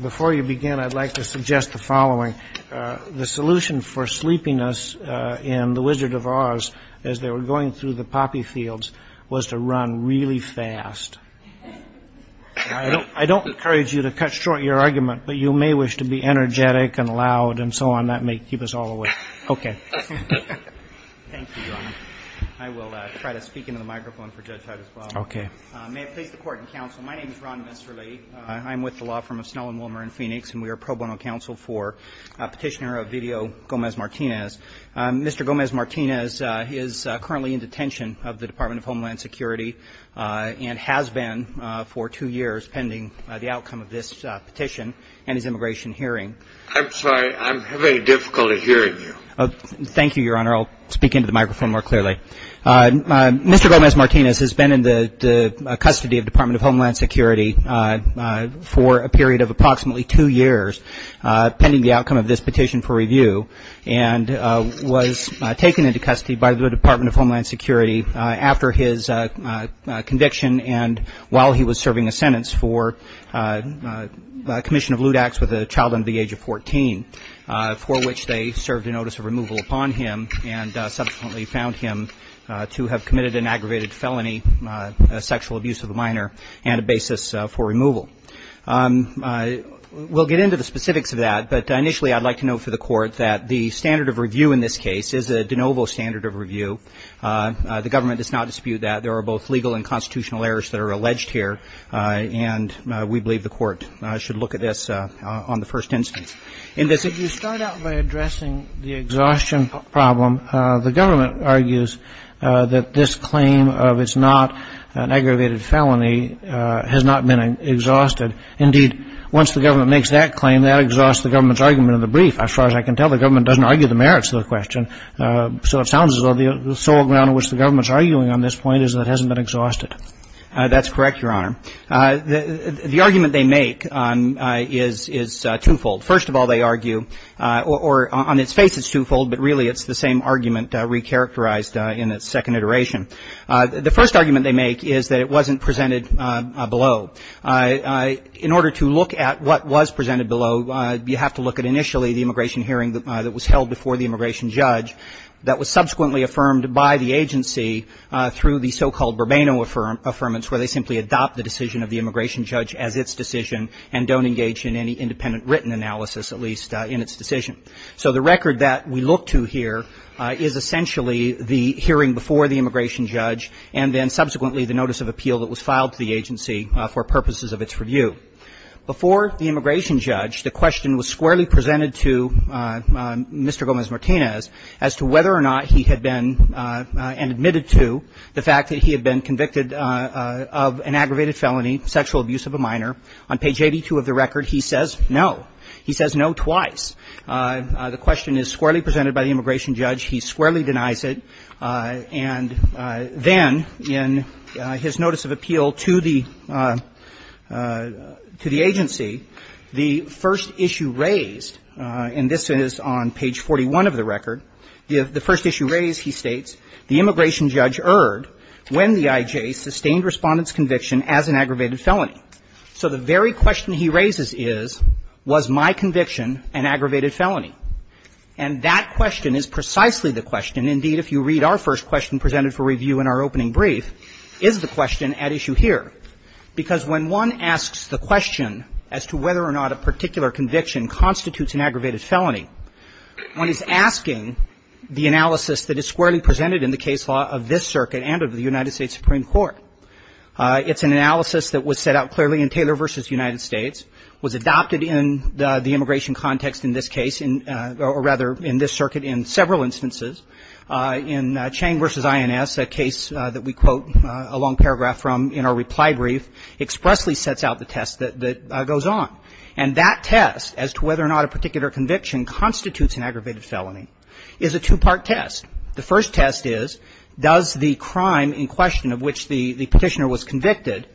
Before you begin, I'd like to suggest the following. The solution for sleeping us in The Wizard of Oz, as they were going through the poppy fields, was to run really fast. I don't encourage you to cut short your argument, but you may wish to be energetic and loud and so on. That may keep us all awake. Okay. Thank you, Your Honor. I will try to speak into the microphone for Judge Hyde as well. Okay. May it please the Court and Counsel, my name is Ron Messerly. I'm with the Law Firm of Snellen, Willmar, and Phoenix, and we are pro bono counsel for Petitioner of Video, Gomez-Martinez. Mr. Gomez-Martinez is currently in detention of the Department of Homeland Security and has been for two years pending the outcome of this petition and his immigration hearing. I'm sorry, I'm having difficulty hearing you. Thank you, Your Honor. I'll speak into the microphone more clearly. Mr. Gomez-Martinez has been in the custody of the Department of Homeland Security for a period of approximately two years pending the outcome of this petition for review and was taken into custody by the Department of Homeland Security after his conviction and while he was serving a sentence for commission of lewd acts with a child under the age of 14, for which they served a notice of removal upon him and subsequently found him to have committed an aggravated felony, a sexual abuse of a minor, and a basis for removal. We'll get into the specifics of that, but initially I'd like to note for the Court that the standard of review in this case is a de novo standard of review. The government does not dispute that. There are both legal and constitutional errors that are alleged here, and we believe the Court should look at this on the first instance. If you start out by addressing the exhaustion problem, the government argues that this claim of it's not an aggravated felony has not been exhausted. Indeed, once the government makes that claim, that exhausts the government's argument in the brief. As far as I can tell, the government doesn't argue the merits of the question. So it sounds as though the sole ground on which the government's arguing on this point is that it hasn't been exhausted. That's correct, Your Honor. The argument they make is twofold. First of all, they argue or on its face it's twofold, but really it's the same argument recharacterized in its second iteration. The first argument they make is that it wasn't presented below. In order to look at what was presented below, you have to look at initially the immigration hearing that was held before the immigration judge that was subsequently affirmed by the agency through the so-called Burbano Affirmance, where they simply adopt the decision of the immigration judge as its decision and don't engage in any independent written analysis, at least in its decision. So the record that we look to here is essentially the hearing before the immigration judge, and then subsequently the notice of appeal that was filed to the agency for purposes of its review. Before the immigration judge, the question was squarely presented to Mr. Gomez-Martinez as to whether or not he had been and admitted to the fact that he had been convicted of an aggravated felony, sexual abuse of a minor. On page 82 of the record, he says no. He says no twice. The question is squarely presented by the immigration judge. He squarely denies it. And then in his notice of appeal to the agency, the first issue raised, and this is on page 41 of the record, the first issue raised, he states, the immigration judge erred when the I.J. sustained Respondent's conviction as an aggravated felony. So the very question he raises is, was my conviction an aggravated felony? And that question is precisely the question, indeed, if you read our first question presented for review in our opening brief, is the question at issue here. Because when one asks the question as to whether or not a particular conviction constitutes an aggravated felony, one is asking the analysis that is squarely presented in the case law of this circuit and of the United States Supreme Court. It's an analysis that was set out clearly in Taylor v. United States, was adopted in the immigration context in this case, or rather in this circuit in several instances. In Chang v. INS, a case that we quote a long paragraph from in our reply brief, expressly sets out the test that goes on. And that test as to whether or not a particular conviction constitutes an aggravated felony is a two-part test. The first test is, does the crime in question of which the petitioner was convicted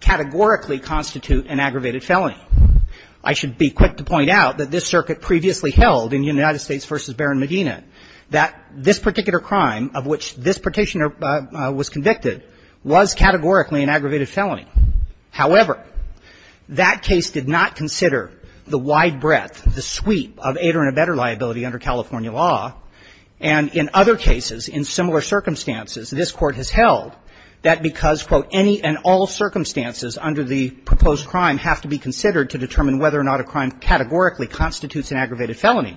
categorically constitute an aggravated felony? I should be quick to point out that this circuit previously held in which this petitioner was convicted was categorically an aggravated felony. However, that case did not consider the wide breadth, the sweep of aider and abetter liability under California law. And in other cases, in similar circumstances, this Court has held that because, quote, any and all circumstances under the proposed crime have to be considered to determine whether or not a crime categorically constitutes an aggravated felony,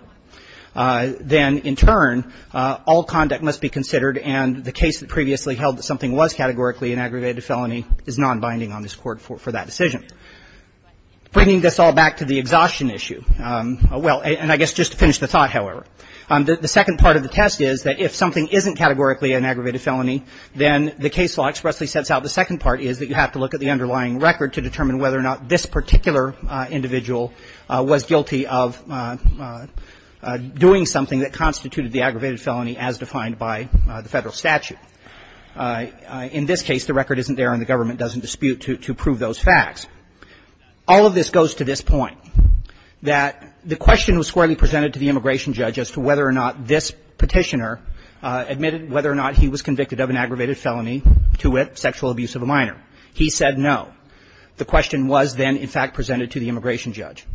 then in turn, all conduct must be considered and the case that previously held that something was categorically an aggravated felony is nonbinding on this Court for that decision. Bringing this all back to the exhaustion issue, well, and I guess just to finish the thought, however, the second part of the test is that if something isn't categorically an aggravated felony, then the case law expressly sets out the second part is that you have to look at the underlying record to determine whether or not this particular individual was guilty of doing something that constituted the aggravated felony as defined by the Federal statute. In this case, the record isn't there and the government doesn't dispute to prove those facts. All of this goes to this point, that the question was squarely to it, sexual abuse of a minor. He said no. The question was then, in fact, presented to the immigration judge.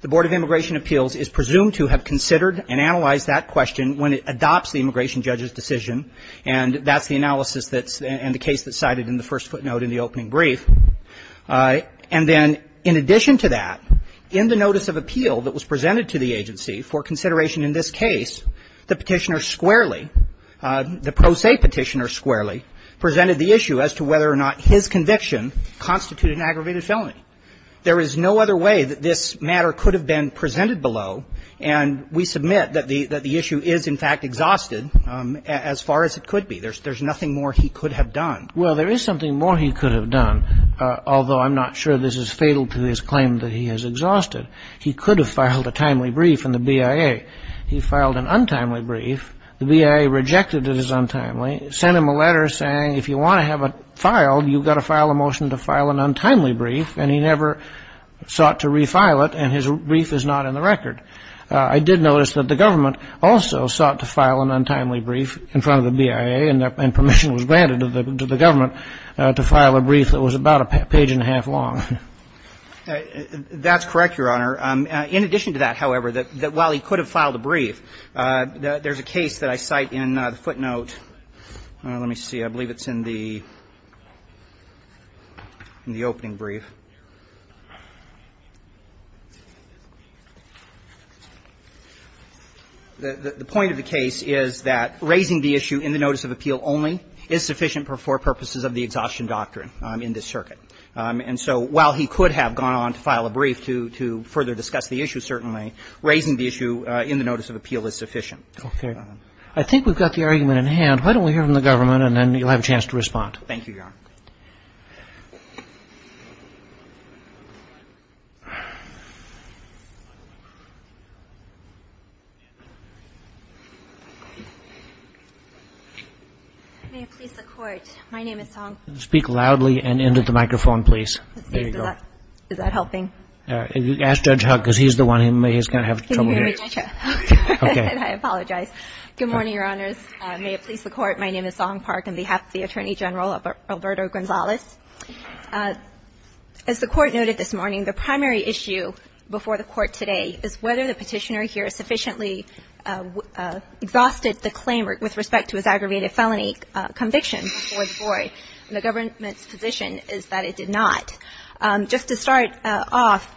The Board of Immigration Appeals is presumed to have considered and analyzed that question when it adopts the immigration judge's decision, and that's the analysis that's the case that's cited in the first footnote in the opening brief. And then in addition to that, in the notice of appeal that was presented to the agency for consideration in this case, the petitioner squarely, the pro se petitioner squarely, presented the issue as to whether or not his conviction constituted an aggravated felony. There is no other way that this matter could have been presented below, and we submit that the issue is, in fact, exhausted as far as it could be. There's nothing more he could have done. Well, there is something more he could have done, although I'm not sure this is fatal to his claim that he has exhausted. He could have filed a timely brief in the BIA. He filed an untimely brief. The BIA rejected it as untimely, sent him a letter saying, if you want to have it filed, you've got to file a motion to file an untimely brief, and he never sought to refile it, and his brief is not in the record. I did notice that the government also sought to file an untimely brief in front of the BIA, and permission was granted to the government to file a brief that was about a page and a half long. That's correct, Your Honor. In addition to that, however, that while he could have filed a brief, there's a case that I cite in the footnote. Let me see. I believe it's in the opening brief. The point of the case is that raising the issue in the notice of appeal only is sufficient for purposes of the exhaustion doctrine in this circuit. And so while he could have gone on to file a brief to further discuss the issue, certainly, raising the issue in the notice of appeal is sufficient. Okay. I think we've got the argument in hand. Why don't we hear from the government, and then you'll have a chance to respond. Thank you, Your Honor. May it please the Court, my name is Song. Speak loudly and into the microphone, please. Is that helping? Ask Judge Huck, because he's the one who may have trouble hearing. Can you hear me, Judge Huck? Okay. I apologize. Good morning, Your Honors. May it please the Court, my name is Song Park. I'm on behalf of the Attorney General, Alberto Gonzalez. As the Court noted this morning, the primary issue before the Court today is whether the Petitioner here sufficiently exhausted the claim with respect to his aggravated felony conviction before the Court. And the government's position is that it did not. Just to start off,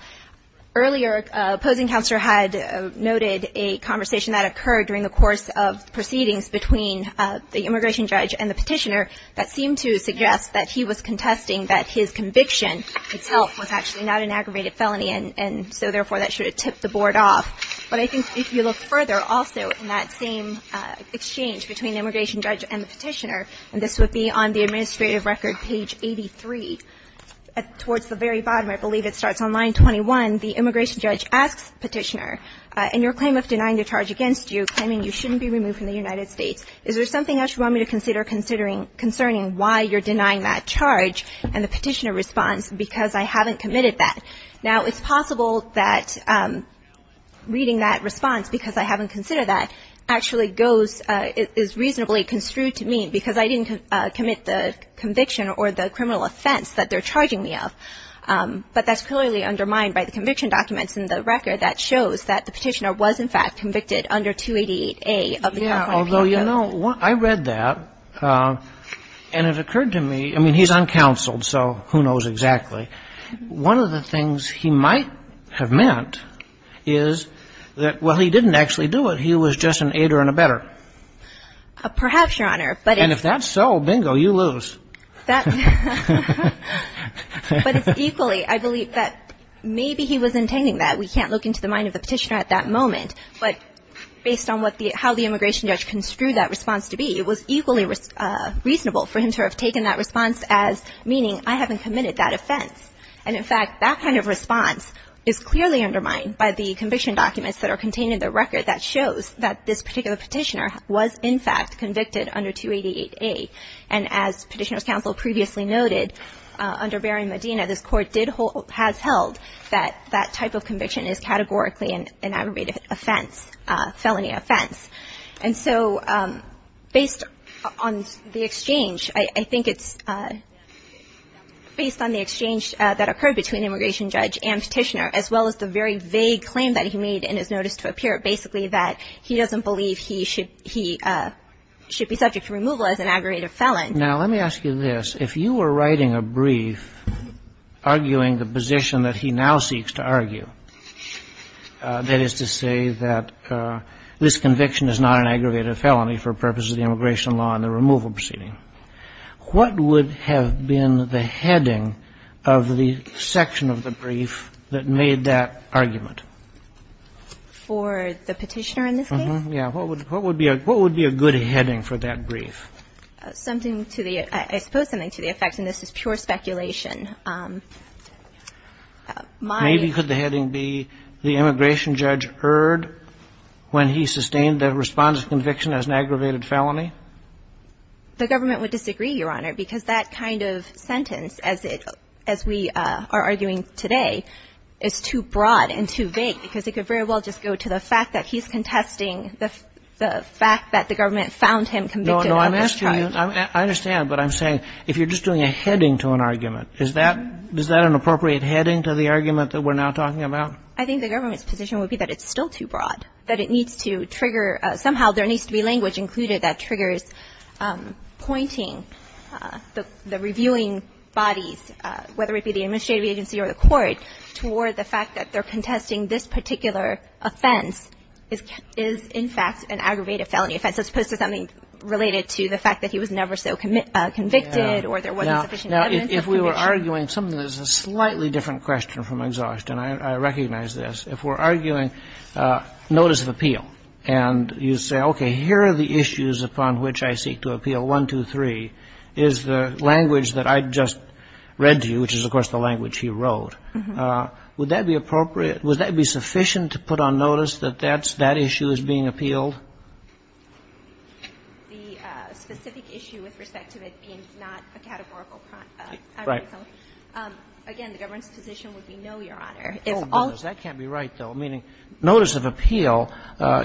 earlier, opposing counsel had noted a conversation that occurred during the course of proceedings between the immigration judge and the Petitioner that seemed to suggest that he was contesting that his conviction itself was actually not an aggravated felony, and so, therefore, that should have tipped the board off. But I think if you look further, also, in that same exchange between the immigration judge and the Petitioner, and this would be on the administrative record, page 83, towards the very bottom, I believe it starts on line 21, the immigration judge asks Petitioner, in your claim of denying the charge against you, claiming you shouldn't be removed from the United States, is there something else you want me to consider concerning why you're denying that charge, and the Petitioner responds, because I haven't committed that. Now, it's possible that reading that response, because I haven't considered that, actually goes, is reasonably construed to mean because I didn't commit the conviction or the criminal offense that they're charging me of. But that's clearly undermined by the conviction documents in the record that shows that the Petitioner was, in fact, convicted under 288A of the California Penal Code. Yeah, although, you know, I read that, and it occurred to me, I mean, he's uncounseled, so who knows exactly. One of the things he might have meant is that, well, he didn't actually do it. He was just an aider and abetter. Perhaps, Your Honor, but if that's so, bingo, you lose. But it's equally, I believe, that maybe he was intending that. We can't look into the mind of the Petitioner at that moment, but based on how the immigration judge construed that response to be, it was equally reasonable for him to have taken that response as meaning, I haven't committed that offense. And, in fact, that kind of response is clearly undermined by the conviction documents that are contained in the record that shows that this particular Petitioner was, in fact, convicted under 288A. And as Petitioner's counsel previously noted, under Barry Medina, this Court has held that that type of conviction is categorically an aggravated offense, a felony offense. And so based on the exchange, I think it's based on the exchange that occurred between the immigration judge and Petitioner, as well as the very vague claim that he made in his notice to appear, basically, that he doesn't believe he should be subject to removal as an aggravated felon. Now, let me ask you this. If you were writing a brief arguing the position that he now seeks to argue, that is to say that this conviction is not an aggravated felony for purposes of the immigration law and the removal proceeding, what would have been the heading of the section of the brief that made that argument? For the Petitioner in this case? Yes. What would be a good heading for that brief? Something to the – I suppose something to the effect, and this is pure speculation. My – Maybe could the heading be the immigration judge erred when he sustained the response to conviction as an aggravated felony? The government would disagree, Your Honor, because that kind of sentence, as we are arguing today, is too broad and too vague, because it could very well just go to the fact that he's contesting the fact that the government found him convicted of this charge. No, I'm asking you – I understand, but I'm saying if you're just doing a heading to an argument, is that – is that an appropriate heading to the argument that we're now talking about? I think the government's position would be that it's still too broad, that it needs to trigger – somehow there needs to be language included that triggers pointing the reviewing bodies, whether it be the administrative agency or the court, toward the fact that they're contesting this particular offense is in fact an aggravated felony offense, as opposed to something related to the fact that he was never so convicted or there wasn't sufficient evidence of conviction. Now, if we were arguing – some of this is a slightly different question from exhaustion. I recognize this. If we're arguing notice of appeal and you say, okay, here are the issues upon which I seek to appeal, one, two, three, is the language that I just read to you, which is of course the language he wrote, would that be appropriate – would that be sufficient to put on notice that that issue is being appealed? The specific issue with respect to it being not a categorical crime. Right. Again, the government's position would be no, Your Honor. Oh, goodness, that can't be right, though, meaning notice of appeal,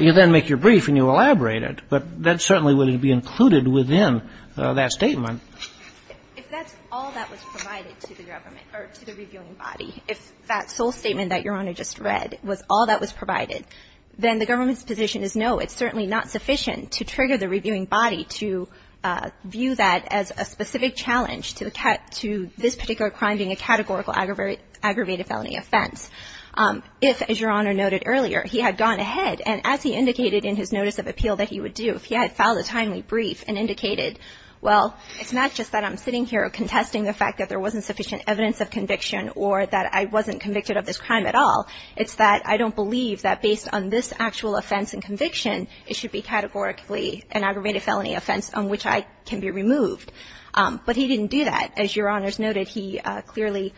you then make your claim that it's not included within that statement. If that's all that was provided to the government or to the reviewing body, if that sole statement that Your Honor just read was all that was provided, then the government's position is no, it's certainly not sufficient to trigger the reviewing body to view that as a specific challenge to this particular crime being a categorical aggravated felony offense. If, as Your Honor noted earlier, he had gone ahead and as he indicated in his notice of appeal that he would do, if he had filed a timely brief and indicated, well, it's not just that I'm sitting here contesting the fact that there wasn't sufficient evidence of conviction or that I wasn't convicted of this crime at all, it's that I don't believe that based on this actual offense and conviction, it should be categorically an aggravated felony offense on which I can be removed. But he didn't do that. As Your Honor's noted, he clearly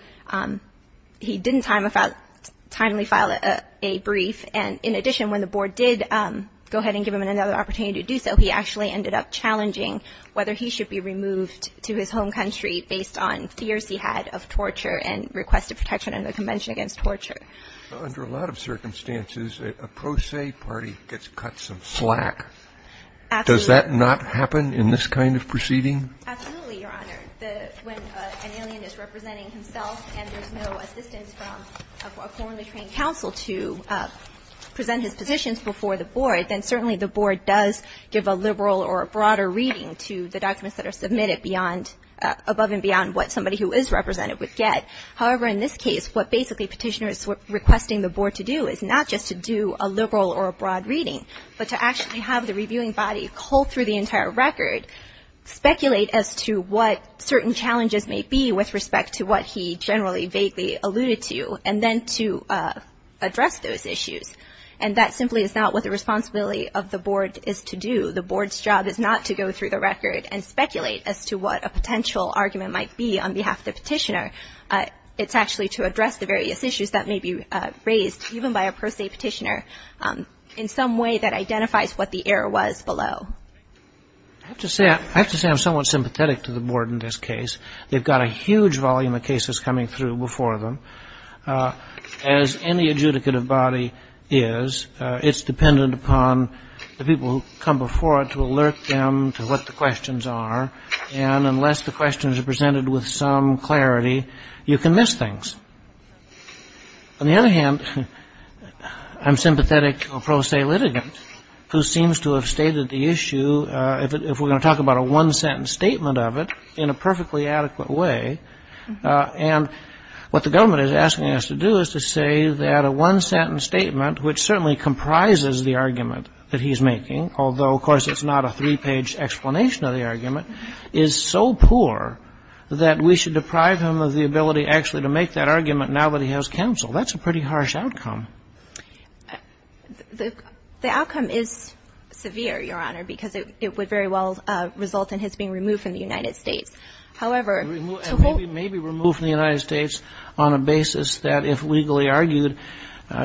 – he didn't timely file a brief. And in addition, when the board did go ahead and give him another opportunity to do so, he actually ended up challenging whether he should be removed to his home country based on fears he had of torture and requested protection under the Convention Against Torture. Under a lot of circumstances, a pro se party gets cut some slack. Absolutely. Does that not happen in this kind of proceeding? Absolutely, Your Honor. When an alien is representing himself and there's no assistance from a formally trained counsel to present his positions before the board, then certainly the board does give a liberal or a broader reading to the documents that are submitted beyond – above and beyond what somebody who is represented would get. However, in this case, what basically Petitioner is requesting the board to do is not just to do a liberal or a broad reading, but to actually have the reviewing body cull through the entire record, speculate as to what certain challenges may be with respect to what he generally vaguely alluded to, and then to address those issues. And that simply is not what the responsibility of the board is to do. The board's job is not to go through the record and speculate as to what a potential argument might be on behalf of the petitioner. It's actually to address the various issues that may be raised, even by a pro se petitioner, in some way that identifies what the error was below. I have to say I'm somewhat sympathetic to the board in this case. They've got a huge volume of cases coming through before them. As any adjudicative body is, it's dependent upon the people who come before it to alert them to what the questions are. And unless the questions are presented with some clarity, you can miss things. On the other hand, I'm sympathetic to a pro se litigant, who seems to have stated the issue, if we're going to talk about a one-sentence statement of it, in a perfectly adequate way. And what the government is asking us to do is to say that a one-sentence statement, which certainly comprises the argument that he's making, although of course it's not a three-page explanation of the argument, is so poor that we should deprive him of the argument now that he has counsel. That's a pretty harsh outcome. The outcome is severe, Your Honor, because it would very well result in his being removed from the United States. And maybe removed from the United States on a basis that, if legally argued,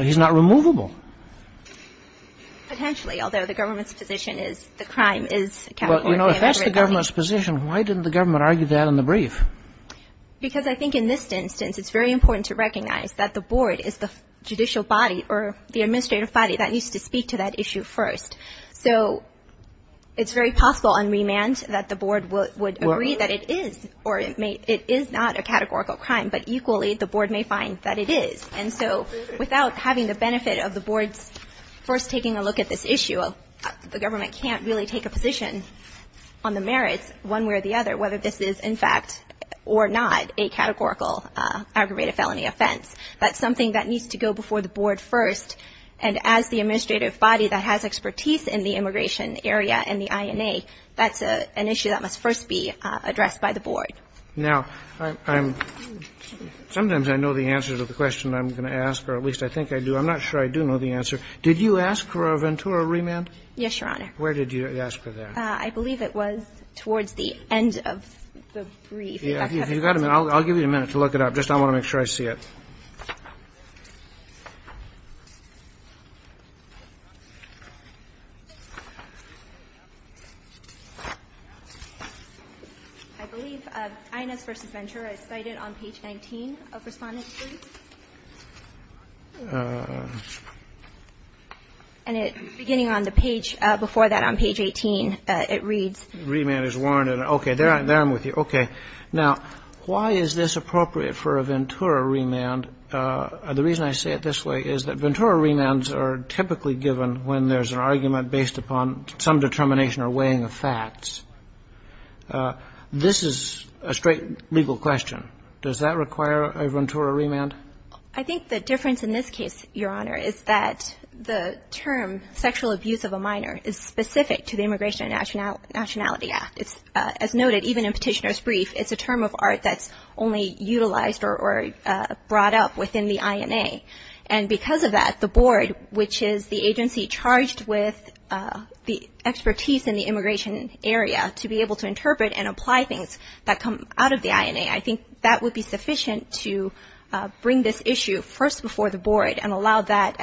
he's not removable. Potentially, although the government's position is the crime is accountability. But, you know, if that's the government's position, why didn't the government argue that in the brief? Because I think in this instance, it's very important to recognize that the board is the judicial body or the administrative body that needs to speak to that issue first. So it's very possible on remand that the board would agree that it is or it is not a categorical crime. But equally, the board may find that it is. And so without having the benefit of the board's first taking a look at this issue, the government can't really take a position on the merits, one way or the other, whether this is in fact or not a categorical aggravated felony offense. That's something that needs to go before the board first. And as the administrative body that has expertise in the immigration area and the INA, that's an issue that must first be addressed by the board. Now, sometimes I know the answer to the question I'm going to ask, or at least I think I do. I'm not sure I do know the answer. Did you ask for a Ventura remand? Yes, Your Honor. Where did you ask for that? I believe it was towards the end of the brief. Yeah, if you've got a minute, I'll give you a minute to look it up. Just I want to make sure I see it. I believe INA's versus Ventura is cited on page 19 of Respondent's brief. And it's beginning on the page before that on page 18. It reads. Remand is warranted. Okay. There I'm with you. Okay. Now, why is this appropriate for a Ventura remand? The reason I say it this way is that Ventura remands are typically given when there's an argument based upon some determination or weighing of facts. This is a straight legal question. Does that require a Ventura remand? I think the difference in this case, Your Honor, is that the term sexual abuse of a minor is specific to the Immigration and Nationality Act. As noted, even in Petitioner's brief, it's a term of art that's only utilized or brought up within the INA. And because of that, the board, which is the agency charged with the expertise in the immigration area, to be able to interpret and apply things that come out of the INA, I think that would be sufficient to bring this issue first before the board and allow that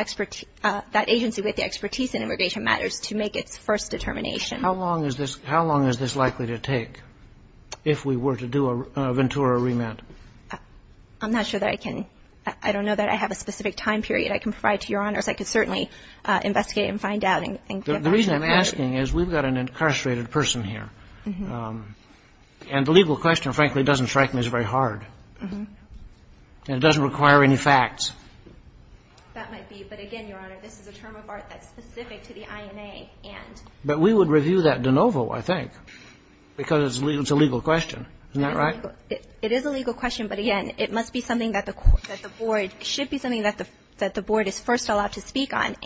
agency with the expertise in immigration matters to make its first determination. How long is this likely to take if we were to do a Ventura remand? I'm not sure that I can. I don't know that I have a specific time period I can provide to Your Honors. I could certainly investigate and find out. The reason I'm asking is we've got an incarcerated person here. And the legal question, frankly, doesn't strike me as very hard. And it doesn't require any facts. That might be. But, again, Your Honor, this is a term of art that's specific to the INA. But we would review that de novo, I think, because it's a legal question. Isn't that right? It is a legal question. But, again, it must be something that the board – it should be something that the board is first allowed to speak on.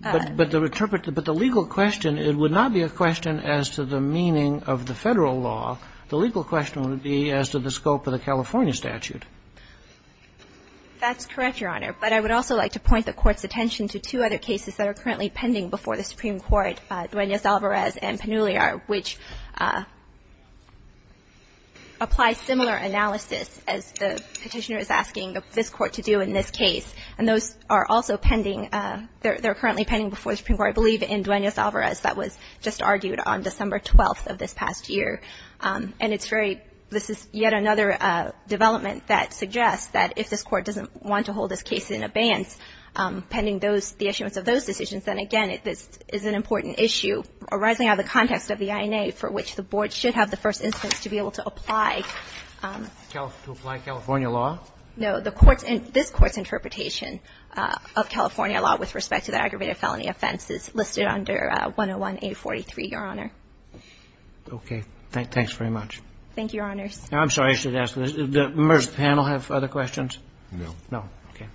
But the legal question, it would not be a question as to the meaning of the Federal law. The legal question would be as to the scope of the California statute. That's correct, Your Honor. But I would also like to point the Court's attention to two other cases that are currently pending before the Supreme Court, Duenas-Alvarez and Pannulliar, which apply similar analysis as the Petitioner is asking this Court to do in this case. And those are also pending. They're currently pending before the Supreme Court, I believe, in Duenas-Alvarez. That was just argued on December 12th of this past year. And it's very – this is yet another development that suggests that if this Court doesn't want to hold this case in abeyance pending those – the issuance of those decisions, then, again, this is an important issue arising out of the context of the INA for which the board should have the first instance to be able to apply. To apply California law? No. The Court's – this Court's interpretation of California law with respect to that Your Honor. Okay. Thanks very much. Thank you, Your Honors. I'm sorry, I should ask this. Does the emergency panel have other questions? No. Okay.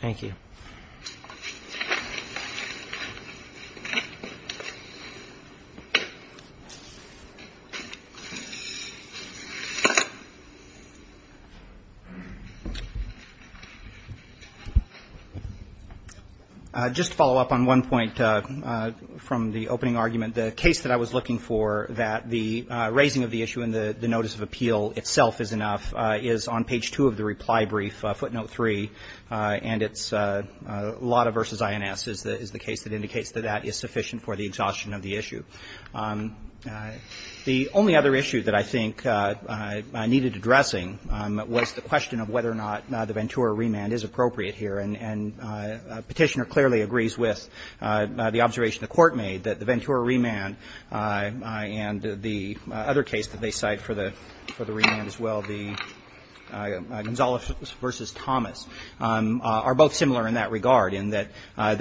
Thank you, Your Honor. Thank you. Just to follow up on one point from the opening argument, the case that I was looking for that the raising of the issue in the notice of appeal itself is enough is on page 2 of the reply brief, footnote 3. And it's – Lotta v. INS is the case that indicates that that is sufficient for the exhaustion of the issue. The only other issue that I think needed addressing was the question of whether or not the Ventura remand is appropriate here. And Petitioner clearly agrees with the observation the Court made that the Ventura remand and the other case that they cite for the remand as well, the Gonzales v. Thomas, are both similar in that regard in that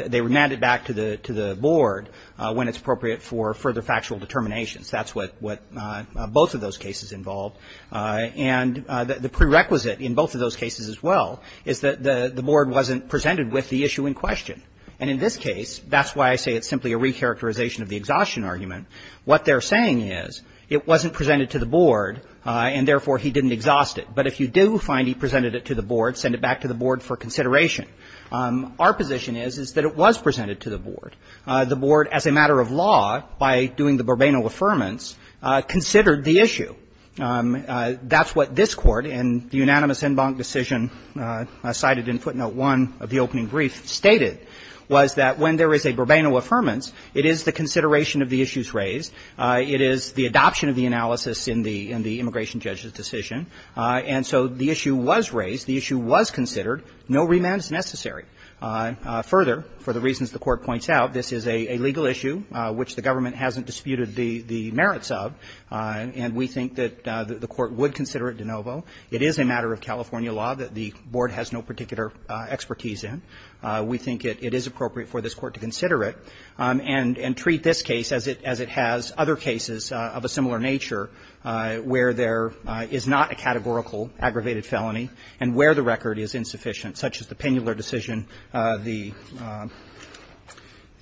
they remand it back to the Board when it's appropriate for further factual determinations. That's what both of those cases involved. And the prerequisite in both of those cases as well is that the Board wasn't presented with the issue in question. And in this case, that's why I say it's simply a recharacterization of the exhaustion argument. What they're saying is it wasn't presented to the Board and, therefore, he didn't exhaust it. But if you do find he presented it to the Board, send it back to the Board for consideration. Our position is, is that it was presented to the Board. The Board, as a matter of law, by doing the Bourbano affirmance, considered the issue. That's what this Court, in the unanimous en banc decision cited in footnote 1 of the opening brief, stated was that when there is a Bourbano affirmance, it is the consideration of the issues raised, it is the adoption of the analysis in the immigration judge's decision, and so the issue was raised, the issue was considered, no remand is necessary. Further, for the reasons the Court points out, this is a legal issue which the government hasn't disputed the merits of, and we think that the Court would consider it de novo. It is a matter of California law that the Board has no particular expertise in. We think it is appropriate for this Court to consider it and treat this case as it has other cases of a similar nature where there is not a categorical aggravated felony and where the record is insufficient, such as the Penular decision,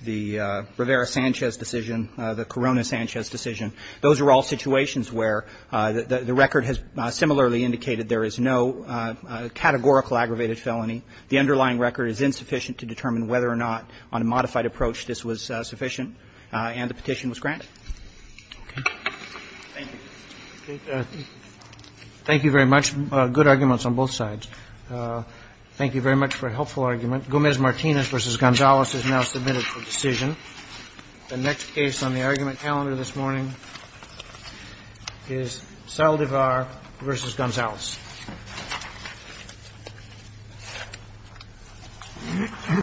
the Rivera-Sanchez decision, the Corona-Sanchez decision. Those are all situations where the record has similarly indicated there is no categorical aggravated felony, the underlying record is insufficient to determine whether or not on a modified approach this was sufficient and the petition was granted. Thank you. Roberts. Thank you very much. Good arguments on both sides. Thank you very much for a helpful argument. Gomez-Martinez v. Gonzales is now submitted for decision. The next case on the argument calendar this morning is Saldivar v. Gonzales. Thank you.